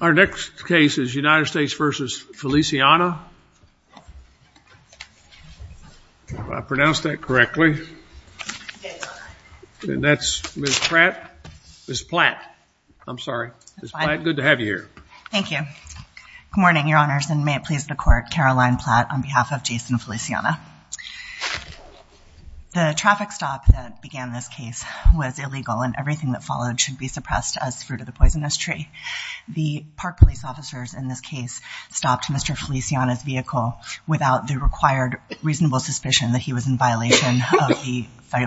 Our next case is United States v. Feliciana. If I pronounced that correctly. And that's Ms. Pratt, Ms. Platt, I'm sorry, Ms. Platt, good to have you here. Thank you. Good morning, your honors. And may it please the court, Caroline Platt on behalf of Jaison Feliciana. The traffic stop that began this case was illegal and everything that followed should be suppressed as fruit of the poisonous tree. The park police officers in this case stopped Mr. Feliciana's vehicle without the required reasonable suspicion that he was in violation of the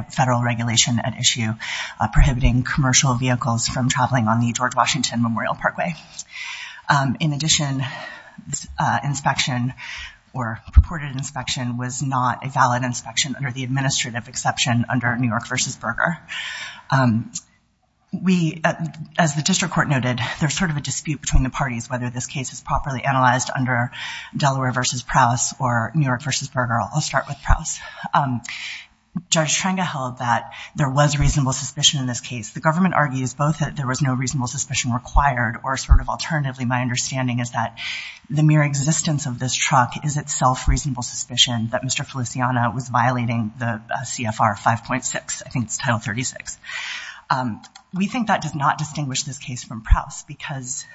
federal regulation at issue prohibiting commercial vehicles from traveling on the George Washington Memorial Parkway. In addition, inspection or purported inspection was not a valid inspection under the administrative exception under New York v. Berger. We, as the district court noted, there's sort of a dispute between the parties, whether this case is properly analyzed under Delaware v. Prowse or New York v. Berger. I'll start with Prowse. Judge Trenga held that there was reasonable suspicion in this case. The government argues both that there was no reasonable suspicion required or sort of alternatively, my understanding is that the mere existence of this truck is itself reasonable suspicion that Mr. Feliciana was violating the CFR 5.6. I think it's Title 36. We think that does not distinguish this case from Prowse because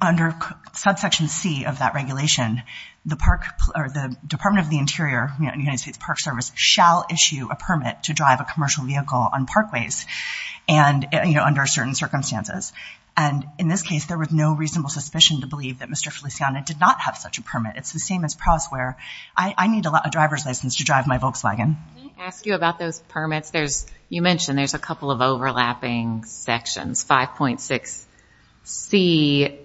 under subsection C of that regulation, the Department of the Interior, United States Park Service, shall issue a permit to drive a commercial vehicle on parkways under certain circumstances. And in this case, there was no reasonable suspicion to believe that Mr. Feliciana did not have such a permit. It's the same as Prowse where I need a driver's license to drive my Volkswagen. Can I ask you about those permits? You mentioned there's a couple of overlapping sections. 5.6C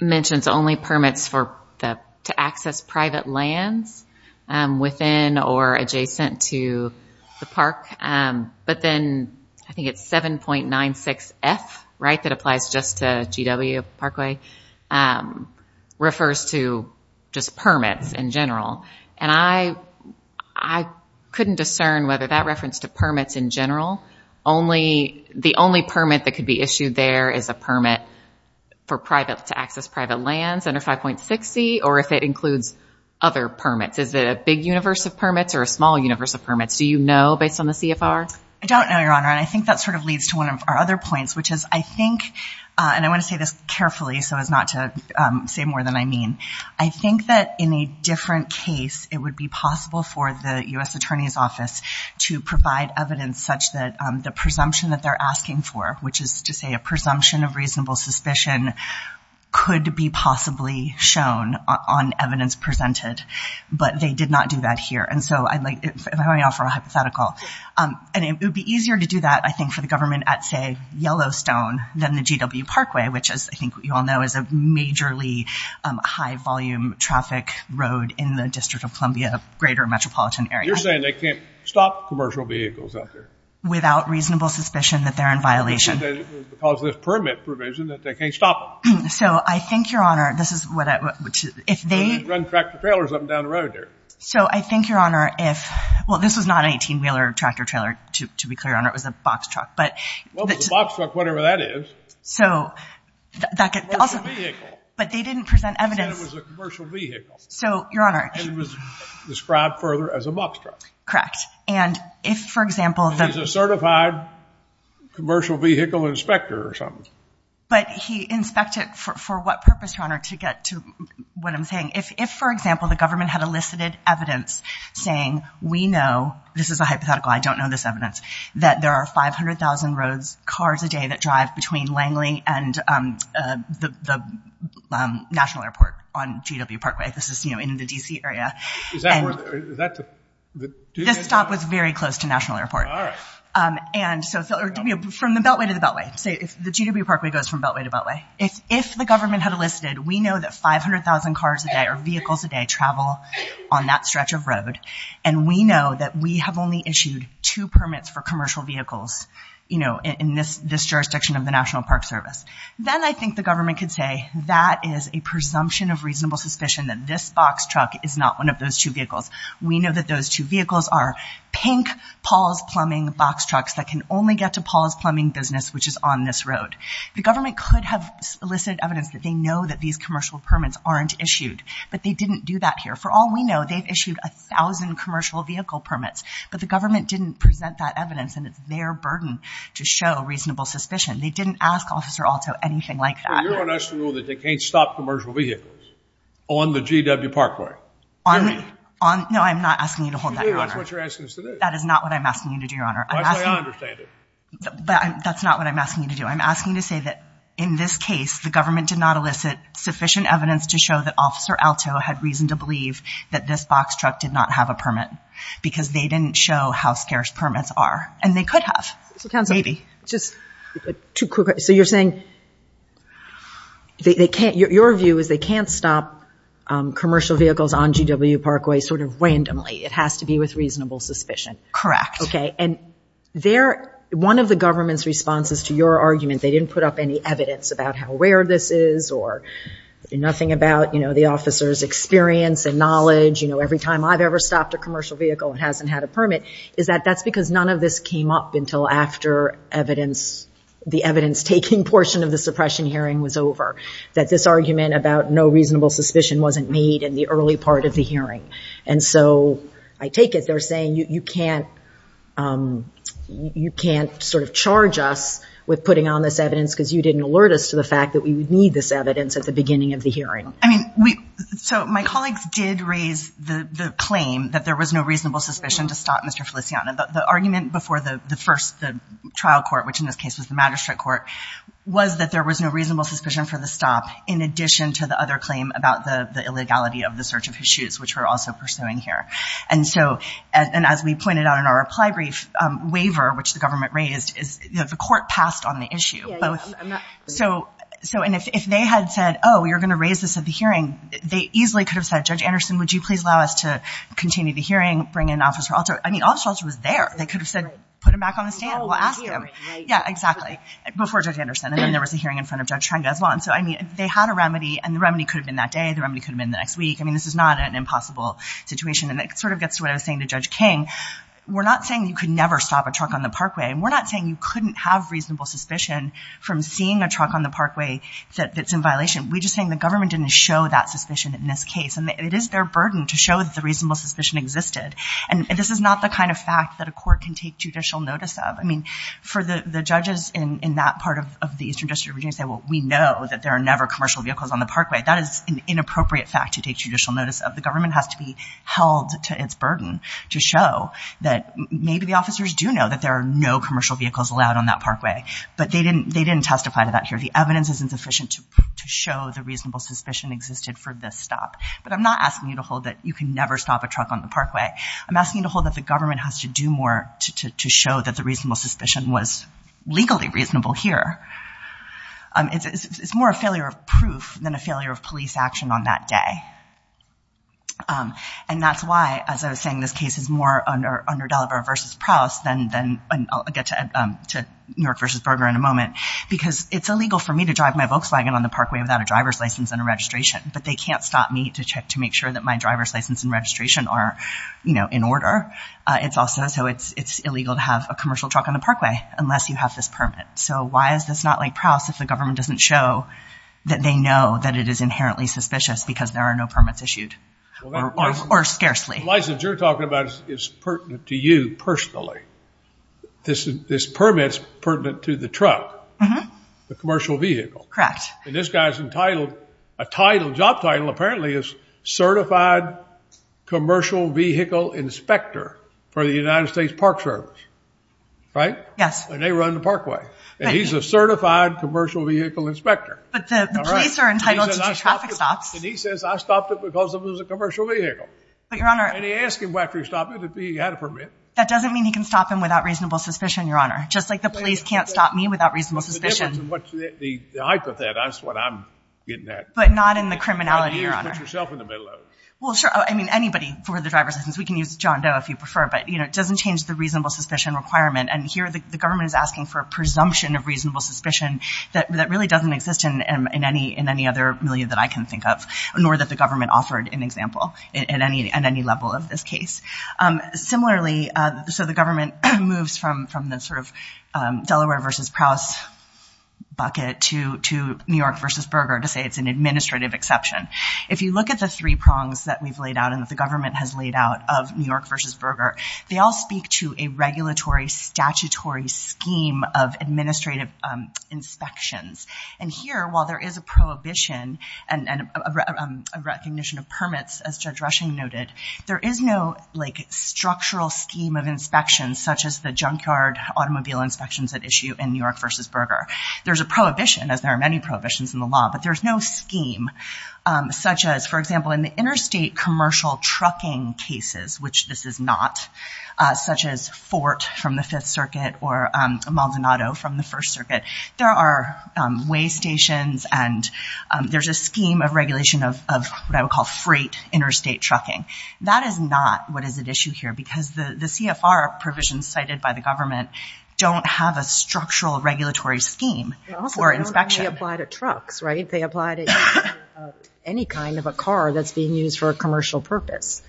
mentions only permits to access private lands within or adjacent to the park. But then I think it's 7.96F, right, that applies just to GW Parkway, refers to just permits in general. And I couldn't discern whether that reference to permits in general, the only permit that could be issued there is a permit to access private lands under 5.6C or if it includes other permits. Is it a big universe of permits or a small universe of permits? Do you know based on the CFR? I don't know, Your Honor, and I think that sort of leads to one of our other points, which is I think, and I want to say this carefully so as not to say more than I mean. I think that in a different case, it would be possible for the U.S. Attorney's Office to provide evidence such that the presumption that they're asking for, which is to say a presumption of reasonable suspicion, could be possibly shown on evidence presented. But they did not do that here. And so if I may offer a hypothetical, it would be easier to do that, I think, for the government at, say, Yellowstone than the GW Parkway, which, as I think you all know, is a majorly high-volume traffic road in the District of Columbia, greater metropolitan area. You're saying they can't stop commercial vehicles out there? Without reasonable suspicion that they're in violation. Because of this permit provision that they can't stop them. So I think, Your Honor, this is what I, which, if they. Run tractor-trailers up and down the road there. So I think, Your Honor, if, well, this was not an 18-wheeler tractor-trailer, to be clear, Your Honor, it was a box truck, but. Well, it was a box truck, whatever that is. So, that could also, but they didn't present evidence. They said it was a commercial vehicle. So, Your Honor. And it was described further as a box truck. Correct. And if, for example, the. It was a certified commercial vehicle inspector or something. But he inspected for what purpose, Your Honor, to get to what I'm saying. If, for example, the government had elicited evidence saying, we know, this is a hypothetical, I don't know this evidence, that there are 500,000 roads, cars a day that drive between Langley and the National Airport on GW Parkway. This is, you know, in the D.C. area. Is that where, is that the. This stop was very close to National Airport. All right. And so, from the Beltway to the Beltway. Say, if the GW Parkway goes from Beltway to Beltway. If the government had elicited, we know that 500,000 cars a day or vehicles a day travel on that stretch of road. And we know that we have only issued two permits for commercial vehicles. You know, in this, this jurisdiction of the National Park Service. Then I think the government could say, that is a presumption of reasonable suspicion that this box truck is not one of those two vehicles. We know that those two vehicles are pink Paul's Plumbing box trucks that can only get to Paul's Plumbing business, which is on this road. The government could have elicited evidence that they know that these commercial permits aren't issued. But they didn't do that here. For all we know, they've issued 1,000 commercial vehicle permits. But the government didn't present that evidence and it's their burden to show reasonable suspicion. They didn't ask Officer Alto anything like that. You're going to ask them that they can't stop commercial vehicles on the GW Parkway? On, on, no, I'm not asking you to hold that, Your Honor. That's what you're asking us to do. That is not what I'm asking you to do, Your Honor. That's why I don't understand it. That's not what I'm asking you to do. I'm asking you to say that in this case, the government did not elicit sufficient evidence to show that Officer Alto had reason to believe that this didn't show how scarce permits are. And they could have, maybe. Just two quick, so you're saying they can't, your view is they can't stop commercial vehicles on GW Parkway sort of randomly. It has to be with reasonable suspicion. Correct. Okay. And there, one of the government's responses to your argument, they didn't put up any evidence about how rare this is or nothing about, you know, the officer's experience and knowledge. You know, every time I've ever stopped a commercial vehicle and hasn't had a permit, is that that's because none of this came up until after evidence, the evidence taking portion of the suppression hearing was over. That this argument about no reasonable suspicion wasn't made in the early part of the hearing. And so, I take it they're saying you can't, you can't sort of charge us with putting on this evidence because you didn't alert us to the fact that we would need this evidence at the beginning of the hearing. I mean, we, so my colleagues did raise the claim that there was no reasonable suspicion to stop Mr. Feliciano. The argument before the first, the trial court, which in this case was the magistrate court, was that there was no reasonable suspicion for the stop in addition to the other claim about the illegality of the search of his shoes, which we're also pursuing here. And so, and as we pointed out in our reply brief, waiver, which the government raised, is, you know, the court passed on the issue, both. So, and if they had said, oh, you're going to raise this at the hearing, they easily could have said, Judge Anderson, would you please allow us to bring in Officer Alter? I mean, Officer Alter was there. They could have said, put him back on the stand, we'll ask him. Yeah, exactly. Before Judge Anderson. And then there was a hearing in front of Judge Trenga as well. And so, I mean, if they had a remedy, and the remedy could have been that day, the remedy could have been the next week. I mean, this is not an impossible situation. And it sort of gets to what I was saying to Judge King. We're not saying you could never stop a truck on the parkway. And we're not saying you couldn't have reasonable suspicion from seeing a truck on the parkway that's in violation. We're just saying the government didn't show that suspicion in this case. And it is their burden to show that the reasonable suspicion existed. And this is not the kind of fact that a court can take judicial notice of. I mean, for the judges in that part of the Eastern District of Virginia to say, well, we know that there are never commercial vehicles on the parkway. That is an inappropriate fact to take judicial notice of. The government has to be held to its burden to show that maybe the officers do know that there are no commercial vehicles allowed on that parkway. But they didn't testify to that here. The evidence isn't sufficient to show the reasonable suspicion existed for this stop. But I'm not asking you to hold that you can never stop a truck on the parkway. I'm asking you to hold that the government has to do more to show that the reasonable suspicion was legally reasonable here. It's more a failure of proof than a failure of police action on that day. And that's why, as I was saying, this case is more under Deliver versus Prowse than I'll get to New York versus Berger in a moment. Because it's illegal for me to drive my Volkswagen on the parkway without a driver's license and a registration. But they can't stop me to check to make sure that my driver's license and registration are in order. It's also so it's illegal to have a commercial truck on the parkway unless you have this permit. So why is this not like Prowse if the government doesn't show that they know that it is inherently suspicious because there are no permits issued or scarcely? The license you're talking about is pertinent to you personally. This permit's pertinent to the truck, the commercial vehicle. Correct. And this guy's entitled, a job title, apparently, is certified commercial vehicle inspector for the United States Park Service, right? Yes. And they run the parkway. And he's a certified commercial vehicle inspector. But the police are entitled to do traffic stops. And he says, I stopped it because it was a commercial vehicle. But, Your Honor. And he asked him after he stopped it if he had a permit. That doesn't mean he can stop him without reasonable suspicion, Your Honor. Just like the police can't stop me without reasonable suspicion. The hypothet, that's what I'm getting at. But not in the criminality, Your Honor. You put yourself in the middle of it. Well, sure. I mean, anybody for the driver's license. We can use John Doe if you prefer. But it doesn't change the reasonable suspicion requirement. And here, the government is asking for a presumption of reasonable suspicion that really doesn't exist in any other milieu that I can think of, nor that the government offered an example in any level of this case. Similarly, so the government moves from the sort of Delaware versus Prowse bucket to New York versus Berger to say it's an administrative exception. If you look at the three prongs that we've laid out and that the government has laid out of New York versus Berger, they all speak to a regulatory statutory scheme of administrative inspections. And here, while there is a prohibition and a recognition of permits, as Judge Rushing noted, there is no structural scheme of inspections, such as the junkyard automobile inspections at issue in New York versus Berger. There's a prohibition, as there are many prohibitions in the law, but there's no scheme. Such as, for example, in the interstate commercial trucking cases, which this is not, such as Fort from the Fifth Circuit or Maldonado from the First Circuit, there are way stations and there's a scheme of regulation of what I would call freight interstate trucking. That is not what is at issue here. Because the CFR provisions cited by the government don't have a structural regulatory scheme for inspection. They apply to trucks, right? They apply to any kind of a car that's being used for a commercial purpose.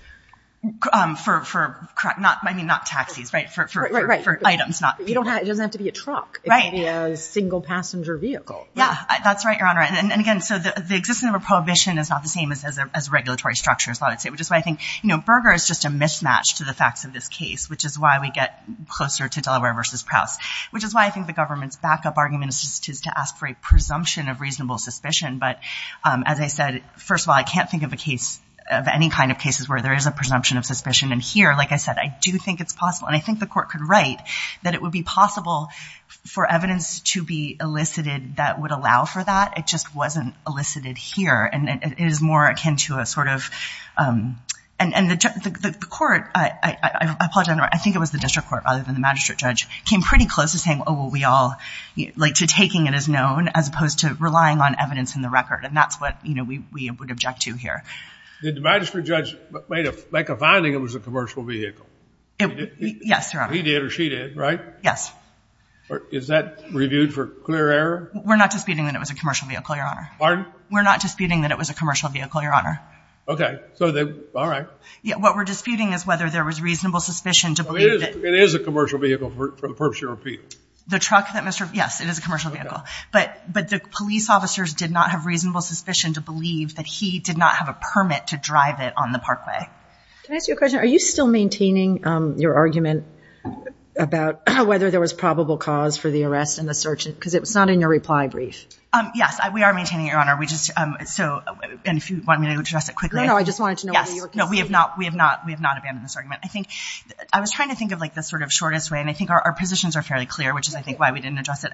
For, I mean, not taxis, right? For items, not people. It doesn't have to be a truck. Right. It could be a single passenger vehicle. Yeah, that's right, Your Honor. And again, so the existence of a prohibition is not the same as a regulatory structure, as a lot would say. Which is why I think Berger is just a mismatch to the facts of this case, which is why we get closer to Delaware versus Prowse, which is why I think the government's backup argument is to ask for a presumption of reasonable suspicion. But as I said, first of all, I can't think of any kind of cases where there is a presumption of suspicion. And here, like I said, I do think it's possible. And I think the court could write that it would be possible for evidence to be elicited that would allow for that. It just wasn't elicited here. And it is more akin to a sort of, and the court, I think it was the district court, rather than the magistrate judge, came pretty close to saying, oh, well, we all, like to taking it as known, as opposed to relying on evidence in the record. And that's what we would object to here. Did the magistrate judge make a finding it was a commercial vehicle? Yes, Your Honor. He did, or she did, right? Yes. Is that reviewed for clear error? We're not disputing that it was a commercial vehicle, Your Honor. Pardon? We're not disputing that it was a commercial vehicle, Your Honor. OK. All right. What we're disputing is whether there was reasonable suspicion to believe that. It is a commercial vehicle for the purpose of your appeal. The truck that Mr. Yes, it is a commercial vehicle. But the police officers did not have reasonable suspicion to believe that he did not have a permit to drive it on the parkway. Can I ask you a question? Are you still maintaining your argument about whether there was probable cause for the arrest and the search? Because it was not in your reply brief. Yes, we are maintaining it, Your Honor. And if you want me to address it quickly. No, no, I just wanted to know whether you were conceding. No, we have not abandoned this argument. I think I was trying to think of the sort of shortest way. And I think our positions are fairly clear, which is, I think, why we didn't address it.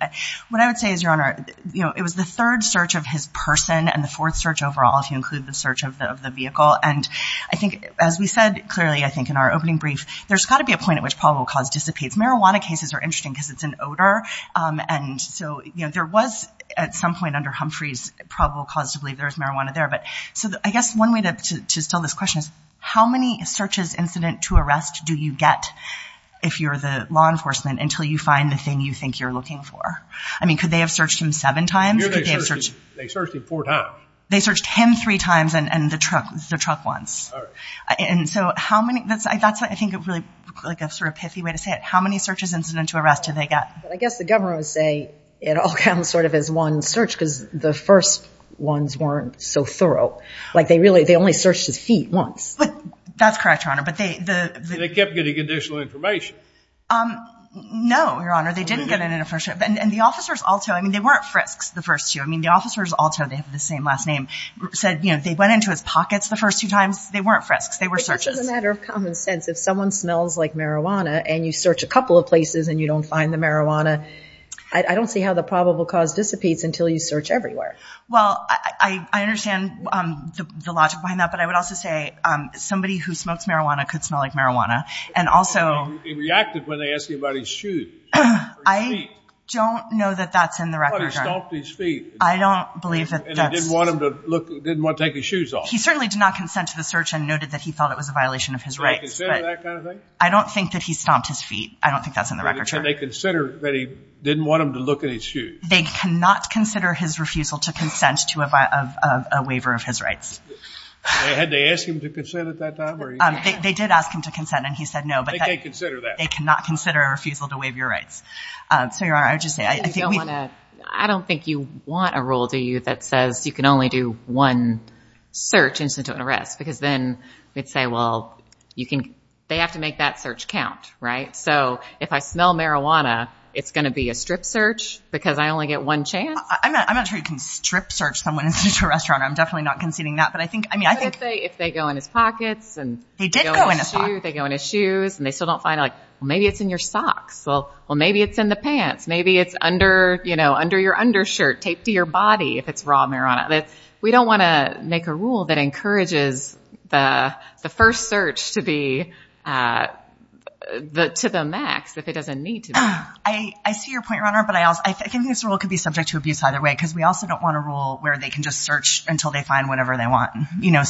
What I would say is, Your Honor, it was the third search of his person and the fourth search overall, if you include the search of the vehicle. And I think, as we said clearly, I think in our opening brief, there's got to be a point at which probable cause dissipates. Marijuana cases are interesting because it's an odor. And so there was, at some point under Humphreys, probable cause to believe there was marijuana there. So I guess one way to still this question is, how many searches incident to arrest do you get if you're the law enforcement until you find the thing you think you're looking for? I mean, could they have searched him seven times? They searched him four times. They searched him three times and the truck once. And so that's, I think, a really pithy way to say it. How many searches incident to arrest did they get? I guess the governor would say it all comes sort of as one search because the first ones weren't so thorough. Like, they only searched his feet once. That's correct, Your Honor. But they kept getting additional information. No, Your Honor. They didn't get it in a first search. And the officers also, I mean, they weren't frisks the first two. I mean, the officers also, they have the same last name, said they went into his pockets the first two times. They weren't frisks. They were searches. But this is a matter of common sense. If someone smells like marijuana and you search a couple of places and you don't find the marijuana, I don't see how the probable cause dissipates until you search everywhere. Well, I understand the logic behind that. But I would also say somebody who smokes marijuana could smell like marijuana. And also, He reacted when they asked him about his shoes or his feet. I don't know that that's in the record, Your Honor. I thought he stomped his feet. I don't believe that that's. And they didn't want him to look, didn't want to take his shoes off. He certainly did not consent to the search and noted that he thought it was a violation of his rights. Do they consider that kind of thing? I don't think that he stomped his feet. I don't think that's in the record, Your Honor. And they consider that he didn't want him to look at his shoes. They cannot consider his refusal to consent to a waiver of his rights. So had they asked him to consent at that time? They did ask him to consent and he said no. They can't consider that. They cannot consider a refusal to waive your rights. So, Your Honor, I would just say, I think we've. I don't think you want a rule, do you, that says you can only do one search instead of an arrest. Because then we'd say, well, you can, they have to make that search count, right? So if I smell marijuana, it's going to be a strip search because I only get one chance? I'm not sure you can strip search someone in such a restaurant. I'm definitely not conceding that. But I think, I mean, I think. If they go in his pockets and. They did go in his pockets. They go in his shoes and they still don't find, like, well, maybe it's in your socks. Well, well, maybe it's in the pants. Maybe it's under, you know, under your undershirt, taped to your body if it's raw marijuana. We don't want to make a rule that encourages the first search to be, to the max, if it doesn't need to be. I see your point, Your Honor. But I think this rule could be subject to abuse either way. Because we also don't want a rule where they can just search until they find whatever they want. You know,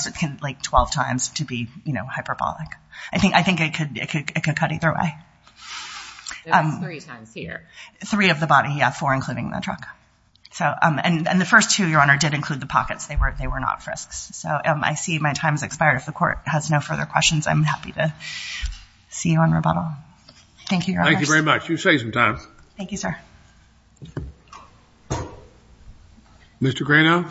like 12 times to be, you know, hyperbolic. I think I think it could cut either way. There's three times here. Three of the body, yeah, four including the truck. So, and the first two, Your Honor, did include the pockets. They were not frisks. So I see my time's expired. I'm happy to see you on rebuttal. Thank you, Your Honor. Thank you very much. You save some time. Thank you, sir. Mr. Grano.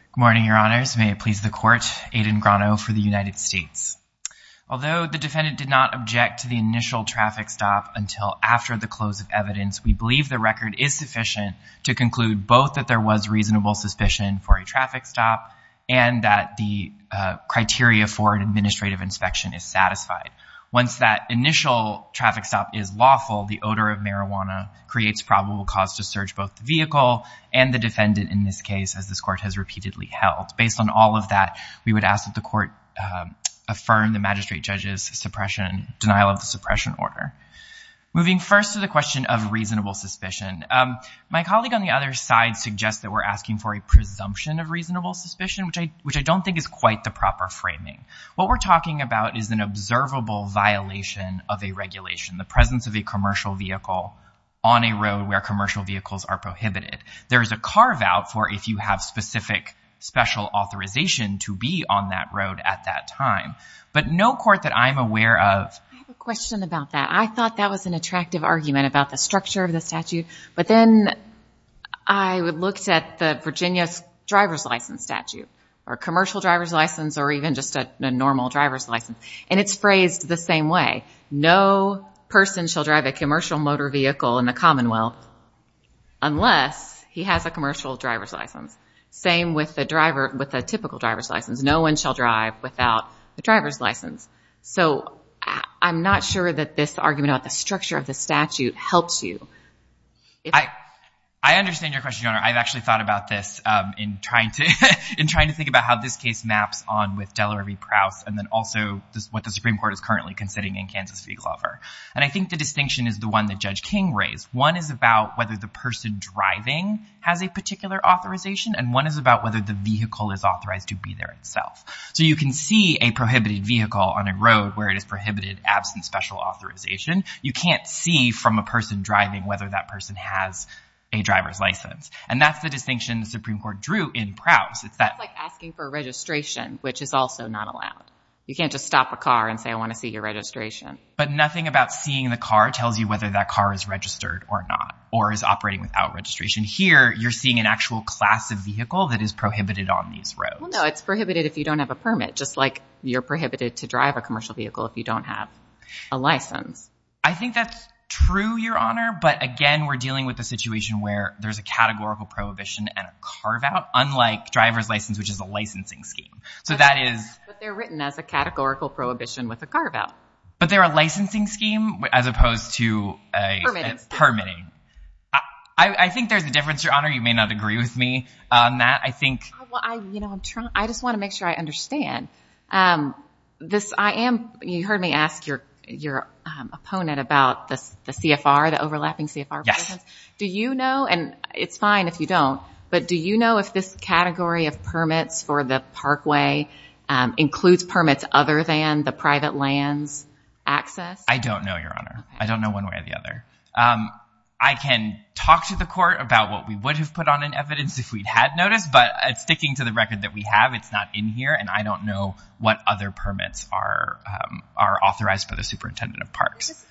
Good morning, Your Honors. May it please the court. Aiden Grano for the United States. Although the defendant did not object to the initial traffic stop until after the close of evidence, we believe the record is sufficient to conclude both that there was reasonable suspicion for a traffic stop and that the criteria for an administrative inspection is satisfied. Once that initial traffic stop is lawful, the odor of marijuana creates probable cause to search both the vehicle and the defendant in this case as this court has repeatedly held. Based on all of that, we would ask that the court affirm the magistrate judge's suppression, denial of the suppression order. Moving first to the question of reasonable suspicion. My colleague on the other side suggests that we're asking for a presumption of reasonable suspicion, which I don't think is quite the proper framing. What we're talking about is an observable violation of a regulation, the presence of a commercial vehicle on a road where commercial vehicles are prohibited. There is a carve out for if you have specific special authorization to be on that road at that time. But no court that I'm aware of. I have a question about that. I thought that was an attractive argument about the structure of the statute, but then I looked at the Virginia's driver's license statute, or commercial driver's license, or even just a normal driver's license. And it's phrased the same way. No person shall drive a commercial motor vehicle in the Commonwealth unless he has a commercial driver's license. Same with a typical driver's license. No one shall drive without the driver's license. So I'm not sure that this argument about the structure of the statute helps you. I understand your question, Your Honor. I've actually thought about this in trying to think about how this case maps on with Delaware v. Prowse and then also what the Supreme Court is currently considering in Kansas v. Glover. And I think the distinction is the one that Judge King raised. One is about whether the person driving has a particular authorization, and one is about whether the vehicle is authorized to be there itself. So you can see a prohibited vehicle on a road where it is prohibited, absent special authorization. You can't see from a person driving whether that person has a driver's license. And that's the distinction the Supreme Court drew in Prowse. It's like asking for registration, which is also not allowed. You can't just stop a car and say, I want to see your registration. But nothing about seeing the car tells you whether that car is registered or not, or is operating without registration. Here, you're seeing an actual class of vehicle that is prohibited on these roads. Well, no, it's prohibited if you don't have a permit, just like you're prohibited to drive a commercial vehicle if you don't have a license. I think that's true, Your Honor. But again, we're dealing with a situation where there's a categorical prohibition and a carve-out, unlike driver's license, which is a licensing scheme. So that is- But they're written as a categorical prohibition with a carve-out. But they're a licensing scheme as opposed to a- Permitting. Permitting. I think there's a difference, Your Honor. You may not agree with me on that. I think- I just want to make sure I understand. You heard me ask your opponent about the CFR, the overlapping CFR- Yes. Do you know, and it's fine if you don't, but do you know if this category of permits for the parkway includes permits other than the private lands access? I don't know, Your Honor. I don't know one way or the other. I can talk to the court about what we would have put on in evidence if we'd had notice, but sticking to the record that we have, it's not in here, and I don't know what other permits are authorized by the superintendent of parks.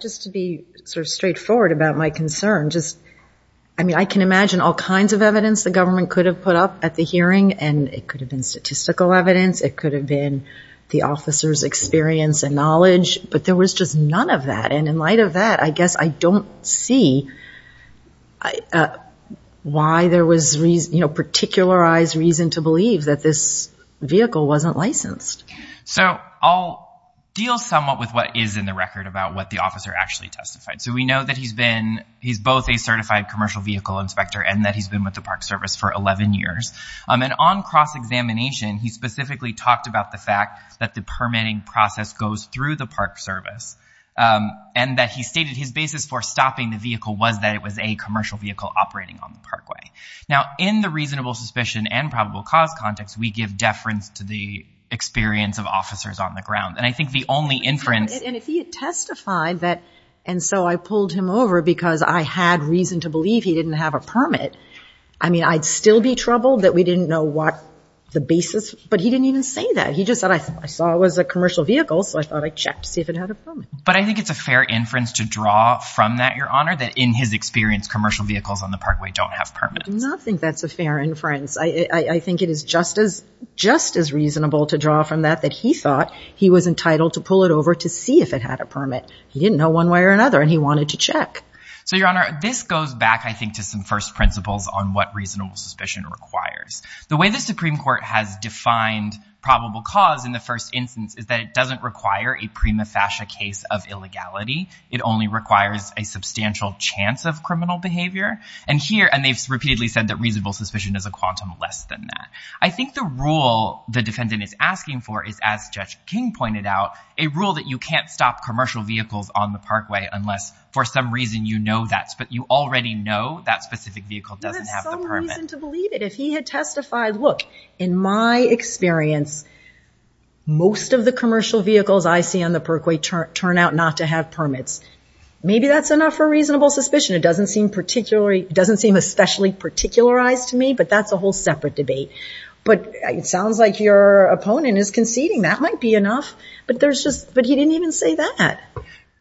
Just to be sort of straightforward about my concern, just, I mean, I can imagine all kinds of evidence the government could have put up at the hearing, and it could have been statistical evidence, it could have been the officer's experience and knowledge, but there was just none of that. And in light of that, I guess I don't see why there was, you know, particularized reason to believe that this vehicle wasn't licensed. So I'll deal somewhat with what is in the record about what the officer actually testified. So we know that he's been, he's both a certified commercial vehicle inspector, and that he's been with the park service for 11 years. And on cross-examination, he specifically talked about the fact that the permitting process goes through the park service, and that he stated his basis for stopping the vehicle was that it was a commercial vehicle operating on the parkway. Now, in the reasonable suspicion and probable cause context, we give deference to the experience of officers on the ground. And I think the only inference- And if he had testified that, and so I pulled him over because I had reason to believe he didn't have a permit, I mean, I'd still be troubled that we didn't know what the basis, but he didn't even say that. He just said, I saw it was a commercial vehicle, so I thought I'd check to see if it had a permit. But I think it's a fair inference to draw from that, Your Honor, that in his experience, commercial vehicles on the parkway don't have permits. I do not think that's a fair inference. I think it is just as reasonable to draw from that that he thought he was entitled to pull it over to see if it had a permit. He didn't know one way or another, and he wanted to check. So, Your Honor, this goes back, I think, to some first principles on what reasonable suspicion requires. The way the Supreme Court has defined probable cause in the first instance is that it doesn't require a prima facie case of illegality. It only requires a substantial chance of criminal behavior. And here, and they've repeatedly said that reasonable suspicion is a quantum less than that. I think the rule the defendant is asking for is, as Judge King pointed out, a rule that you can't stop commercial vehicles on the parkway unless, for some reason, you already know that specific vehicle doesn't have the permit. You have some reason to believe it. If he had testified, look, in my experience, most of the commercial vehicles I see on the parkway turn out not to have permits. Maybe that's enough for reasonable suspicion. It doesn't seem particularly, it doesn't seem especially particularized to me, but that's a whole separate debate. But it sounds like your opponent is conceding. That might be enough. But there's just, but he didn't even say that.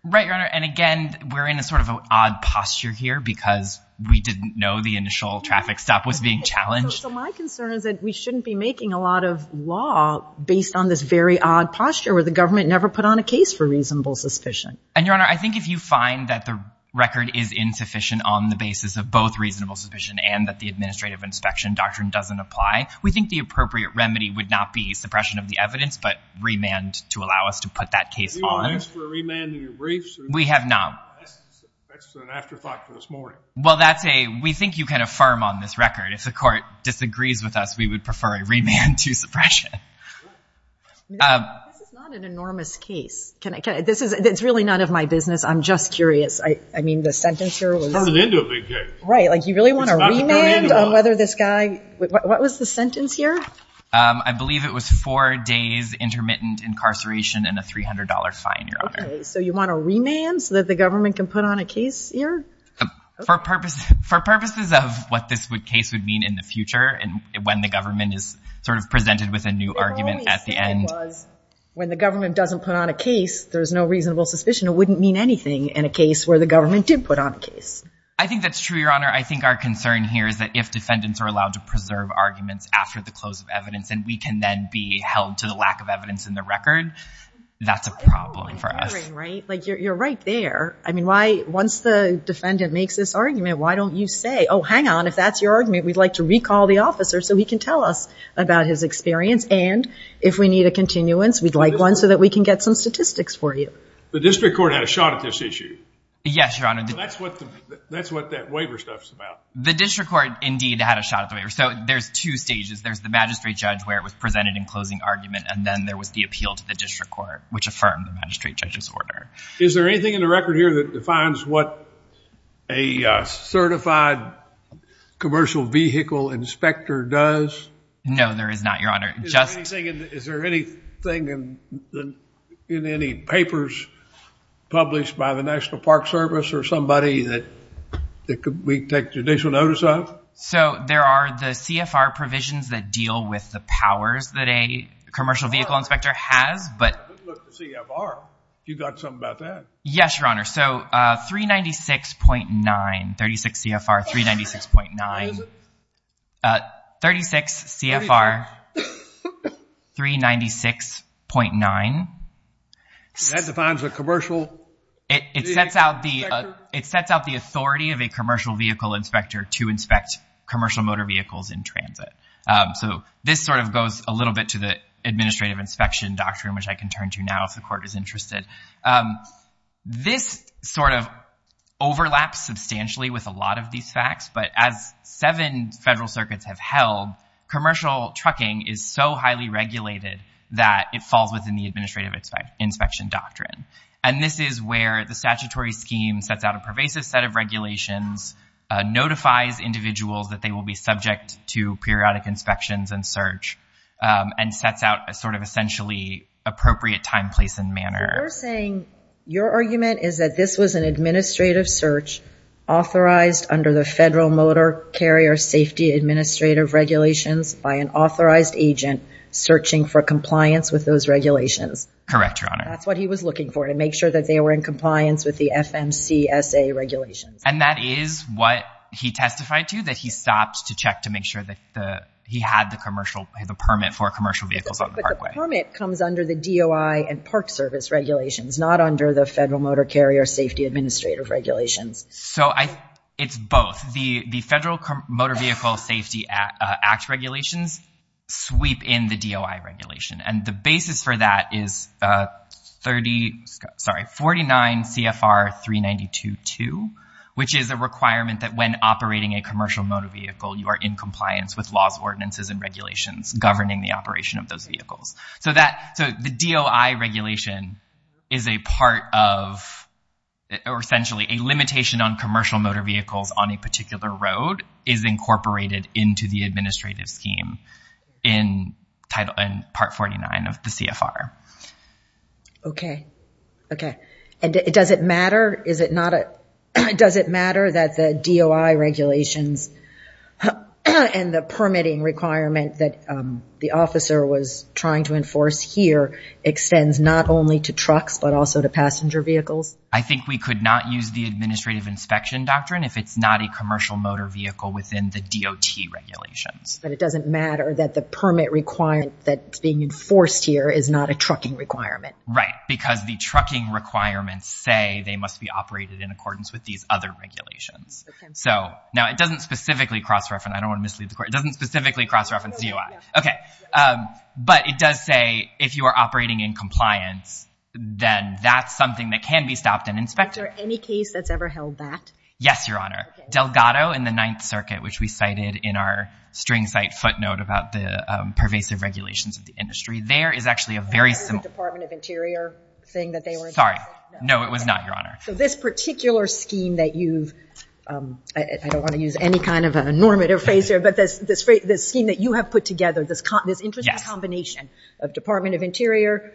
Right, Your Honor, and again, we're in a sort of odd posture here because we didn't know the initial traffic stop was being challenged. So my concern is that we shouldn't be making a lot of law based on this very odd posture where the government never put on a case for reasonable suspicion. And Your Honor, I think if you find that the record is insufficient on the basis of both reasonable suspicion and that the administrative inspection doctrine doesn't apply, we think the appropriate remedy would not be suppression of the evidence, but remand to allow us to put that case on. Have you ever asked for a remand in your briefs? We have not. That's an afterthought for this morning. Well, that's a, we think you can affirm on this record. If the court disagrees with us, we would prefer a remand to suppression. This is not an enormous case. Can I, this is, it's really none of my business. I'm just curious. I mean, the sentence here was. It's not an end to a big case. Right, like you really want a remand on whether this guy, what was the sentence here? I believe it was four days intermittent incarceration and a $300 fine, Your Honor. Okay, so you want a remand so that the government can put on a case here? For purposes of what this case would mean in the future and when the government is sort of presented with a new argument at the end. The only sentence was, when the government doesn't put on a case, there's no reasonable suspicion. It wouldn't mean anything in a case where the government did put on a case. I think that's true, Your Honor. I think our concern here is that if defendants are allowed to preserve arguments after the close of evidence and we can then be held to the lack of evidence in the record, that's a problem for us. Right, like you're right there. I mean, why, once the defendant makes this argument, why don't you say, oh, hang on, if that's your argument, we'd like to recall the officer so he can tell us about his experience and if we need a continuance, we'd like one so that we can get some statistics for you. The district court had a shot at this issue. Yes, Your Honor. That's what that waiver stuff's about. The district court, indeed, had a shot at the waiver. So there's two stages. There's the magistrate judge where it was presented in closing argument and then there was the appeal to the district court which affirmed the magistrate judge's order. Is there anything in the record here that defines what a certified commercial vehicle inspector does? No, there is not, Your Honor. Just... Is there anything in any papers published by the National Park Service or somebody that we take judicial notice of? So there are the CFR provisions that deal with the powers that a commercial vehicle inspector has, but... Look, the CFR, you got something about that. Yes, Your Honor. So 396.9, 36 CFR, 396.9. What is it? 36 CFR, 396.9. That defines a commercial vehicle inspector? It sets out the authority of a commercial vehicle inspector to inspect commercial motor vehicles in transit. So this sort of goes a little bit to the administrative inspection doctrine which I can turn to now if the court is interested. This sort of overlaps substantially with a lot of these facts, but as seven federal circuits have held, commercial trucking is so highly regulated that it falls within the administrative inspection doctrine. And this is where the statutory scheme sets out a pervasive set of regulations, notifies individuals that they will be subject to periodic inspections and search, and sets out a sort of essentially appropriate time, place, and manner. You're saying your argument is that this was an administrative search authorized under the Federal Motor Carrier Safety Administrative Regulations by an authorized agent searching for compliance with those regulations. Correct, Your Honor. That's what he was looking for, to make sure that they were in compliance with the FMCSA regulations. And that is what he testified to, that he stopped to check to make sure that he had the permit for commercial vehicles on the parkway. But the permit comes under the DOI and Park Service regulations, not under the Federal Motor Carrier Safety Administrative Regulations. So it's both. The Federal Motor Vehicle Safety Act regulations sweep in the DOI regulation. And the basis for that is 39 CFR 392.2, which is a requirement that when operating a commercial motor vehicle, you are in compliance with laws, ordinances, and regulations governing the operation of those vehicles. So the DOI regulation is a part of, or essentially a limitation on commercial motor vehicles on a particular road is incorporated into the administrative scheme in part 49 of the CFR. Okay, okay. And does it matter, is it not a, does it matter that the DOI regulations and the permitting requirement that the officer was trying to enforce here extends not only to trucks, but also to passenger vehicles? I think we could not use the administrative inspection doctrine if it's not a commercial motor vehicle within the DOT regulations. But it doesn't matter that the permit requirement that's being enforced here is not a trucking requirement. Right, because the trucking requirements say they must be operated in accordance with these other regulations. So now it doesn't specifically cross-reference, I don't wanna mislead the court, it doesn't specifically cross-reference DOI. Okay, but it does say if you are operating in compliance, then that's something that can be stopped and inspected. Is there any case that's ever held that? Yes, Your Honor. Delgado in the Ninth Circuit, which we cited in our string site footnote about the pervasive regulations of the industry, there is actually a very similar. Was that a Department of Interior thing that they were? Sorry, no, it was not, Your Honor. So this particular scheme that you've, I don't wanna use any kind of a normative phrase here, but this scheme that you have put together, this interesting combination of Department of Interior,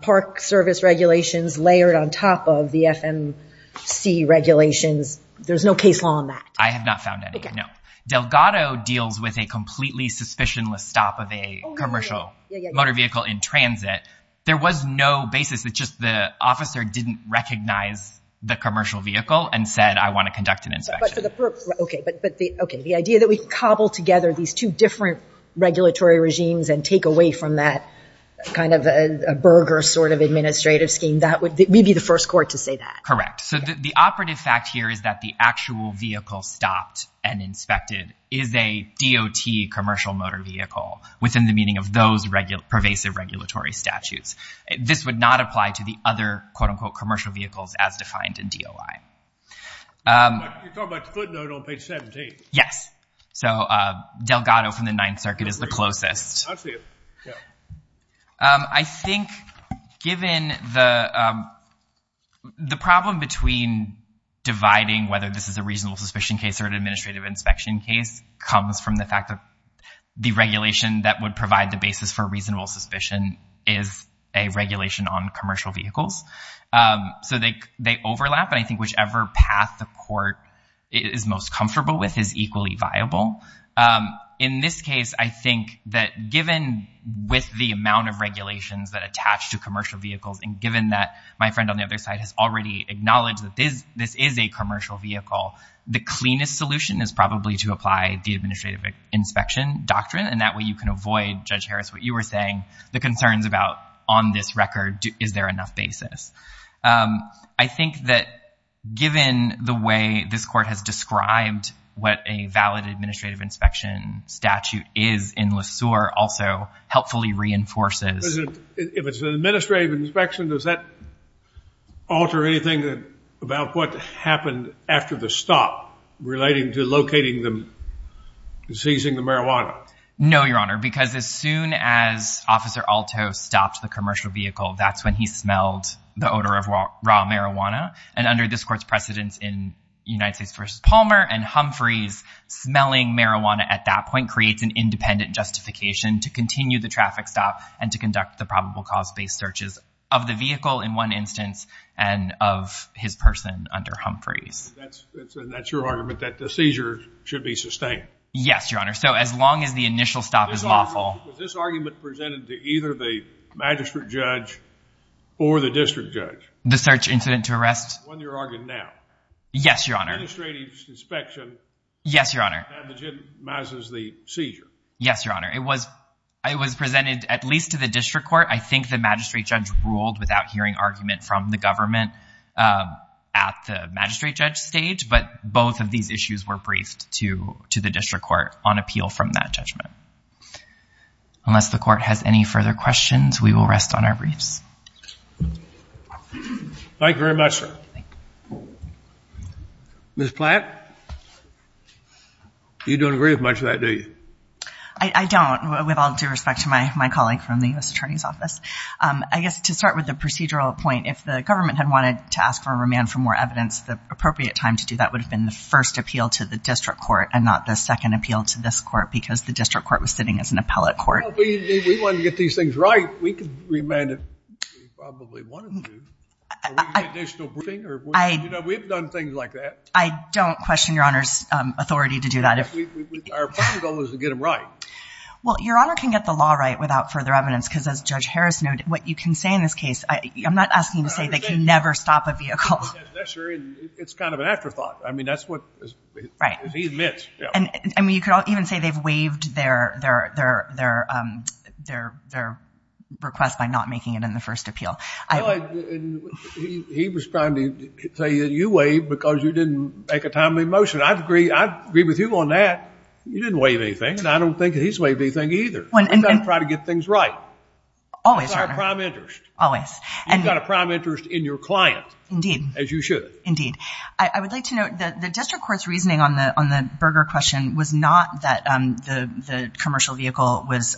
park service regulations, layered on top of the FMC regulations, there's no case law on that. I have not found any, no. Delgado deals with a completely suspicionless stop of a commercial motor vehicle in transit. There was no basis, it's just the officer didn't recognize the commercial vehicle and said, I wanna conduct an inspection. Okay, but the idea that we cobble together these two different regulatory regimes and take away from that kind of a burger sort of administrative scheme, that would, we'd be the first court to say that. Correct, so the operative fact here is that the actual vehicle stopped and inspected is a DOT commercial motor vehicle within the meaning of those pervasive regulatory statutes. This would not apply to the other, quote unquote, commercial vehicles as defined in DOI. You're talking about the footnote on page 17. Yes. So Delgado from the Ninth Circuit is the closest. I see it, yeah. I think given the problem between dividing whether this is a reasonable suspicion case or an administrative inspection case comes from the fact that the regulation that would provide the basis for reasonable suspicion is a regulation on commercial vehicles. So they overlap and I think whichever path the court is most comfortable with is equally viable. In this case, I think that given with the amount of regulations that attach to commercial vehicles and given that my friend on the other side has already acknowledged that this is a commercial vehicle, the cleanest solution is probably to apply the administrative inspection doctrine and that way you can avoid, Judge Harris, what you were saying, the concerns about on this record, is there enough basis? I think that given the way this court has described what a valid administrative inspection statute is in LeSueur also helpfully reinforces. If it's an administrative inspection, does that alter anything about what happened after the stop relating to locating them and seizing the marijuana? No, Your Honor, because as soon as Officer Alto stopped the commercial vehicle, that's when he smelled the odor of raw marijuana and under this court's precedence in United States versus Palmer and Humphreys smelling marijuana at that point creates an independent justification to continue the traffic stop and to conduct the probable cause-based searches of the vehicle in one instance and of his person under Humphreys. That's your argument that the seizure should be sustained? Yes, Your Honor, so as long as the initial stop is lawful. Was this argument presented to either the magistrate judge or the district judge? The search incident to arrest? On your argument now. Yes, Your Honor. Administrative inspection. Yes, Your Honor. That legitimizes the seizure. Yes, Your Honor, it was presented at least to the district court. I think the magistrate judge ruled without hearing argument from the government at the magistrate judge stage, but both of these issues were briefed to the district court on appeal from that judgment. Unless the court has any further questions, we will rest on our briefs. Thank you very much, sir. Ms. Platt, you don't agree with much of that, do you? I don't, with all due respect to my colleague from the U.S. Attorney's Office. I guess to start with the procedural point, if the government had wanted to ask for remand for more evidence, the appropriate time to do that would have been the first appeal to the district court and not the second appeal to this court because the district court was sitting as an appellate court. Well, if we wanted to get these things right, we could remand if we probably wanted to. Or we could get additional briefing. We've done things like that. I don't question Your Honor's authority to do that. Our primary goal is to get them right. Well, Your Honor can get the law right without further evidence, because as Judge Harris noted, what you can say in this case, I'm not asking you to say they can never stop a vehicle. That's true, and it's kind of an afterthought. I mean, that's what he admits. And I mean, you could even say they've waived their request by not making it in the first appeal. He was trying to say that you waived because you didn't make a timely motion. I'd agree with you on that. You didn't waive anything, and I don't think he's waived anything either. We've got to try to get things right. Always, Your Honor. That's our prime interest. You've got a prime interest in your client, as you should. Indeed. I would like to note that the district court's reasoning on the Berger question was not that the commercial vehicle was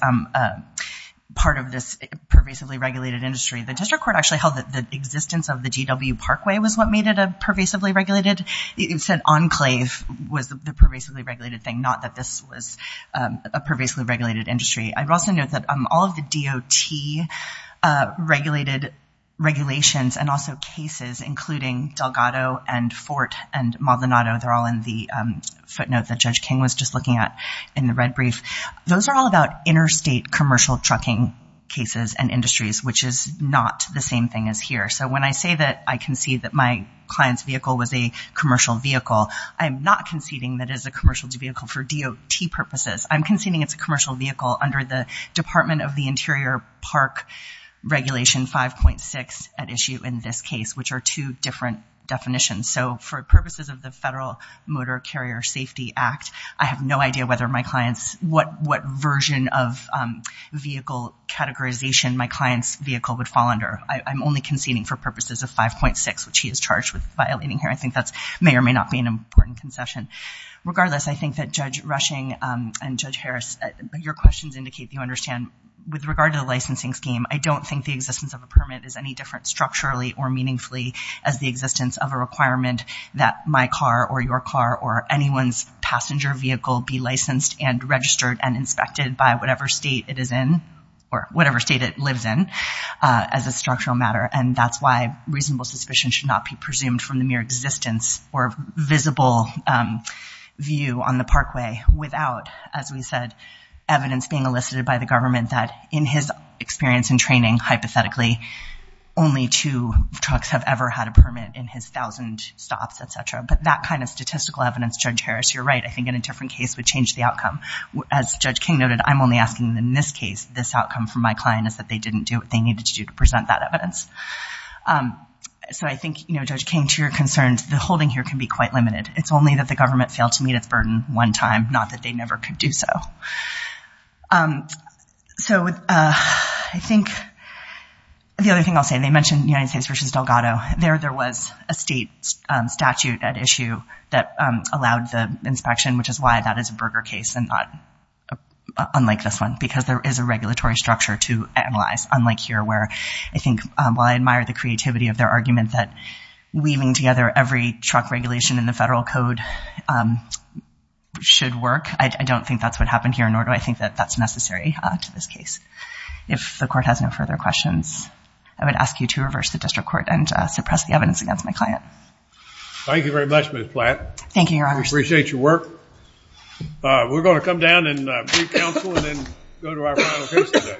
part of this pervasively regulated industry. The district court actually held that the existence of the GW Parkway was what made it a pervasively regulated. It said Enclave was the pervasively regulated thing, not that this was a pervasively regulated industry. I'd also note that all of the DOT regulations and also cases, including Delgado and Fort and Maldonado, they're all in the footnote that Judge King was just looking at in the red brief. Those are all about interstate commercial trucking cases and industries, which is not the same thing as here. So when I say that I concede that my client's vehicle was a commercial vehicle, I'm not conceding that it is a commercial vehicle for DOT purposes. I'm conceding it's a commercial vehicle under the Department of the Interior Park Regulation 5.6 at issue in this case, which are two different definitions. So for purposes of the Federal Motor Carrier Safety Act, I have no idea what version of vehicle categorization my client's vehicle would fall under. I'm only conceding for purposes of 5.6, which he is charged with violating here. I think that may or may not be an important concession. Regardless, I think that Judge Rushing and Judge Harris, your questions indicate that you understand with regard to the licensing scheme, I don't think the existence of a permit is any different structurally or meaningfully as the existence of a requirement that my car or your car or anyone's passenger vehicle be licensed and registered and inspected by whatever state it is in or whatever state it lives in as a structural matter. And that's why reasonable suspicion should not be presumed from the mere existence or visible view on the parkway without, as we said, evidence being elicited by the government that in his experience and training, hypothetically, only two trucks have ever had a permit in his 1,000 stops, et cetera. But that kind of statistical evidence, Judge Harris, you're right. I think in a different case would change the outcome. As Judge King noted, I'm only asking in this case, this outcome from my client is that they didn't do what they needed to do to present that evidence. So I think, Judge King, to your concerns, the holding here can be quite limited. It's only that the government failed to meet its burden one time, not that they never could do so. So I think the other thing I'll say, they mentioned United States v. Delgado. There, there was a state statute at issue that allowed the inspection, which is why that is a burger case and not unlike this one, because there is a regulatory structure to analyze, unlike here, where I think, while I admire the creativity of their argument that weaving together every truck regulation in the federal code should work, I don't think that's what happened here. Nor do I think that that's necessary to this case. If the court has no further questions, I would ask you to reverse the district court and suppress the evidence against my client. Thank you very much, Ms. Platt. Thank you, Your Honor. Appreciate your work. We're going to come down and brief counsel and then go to our final case today.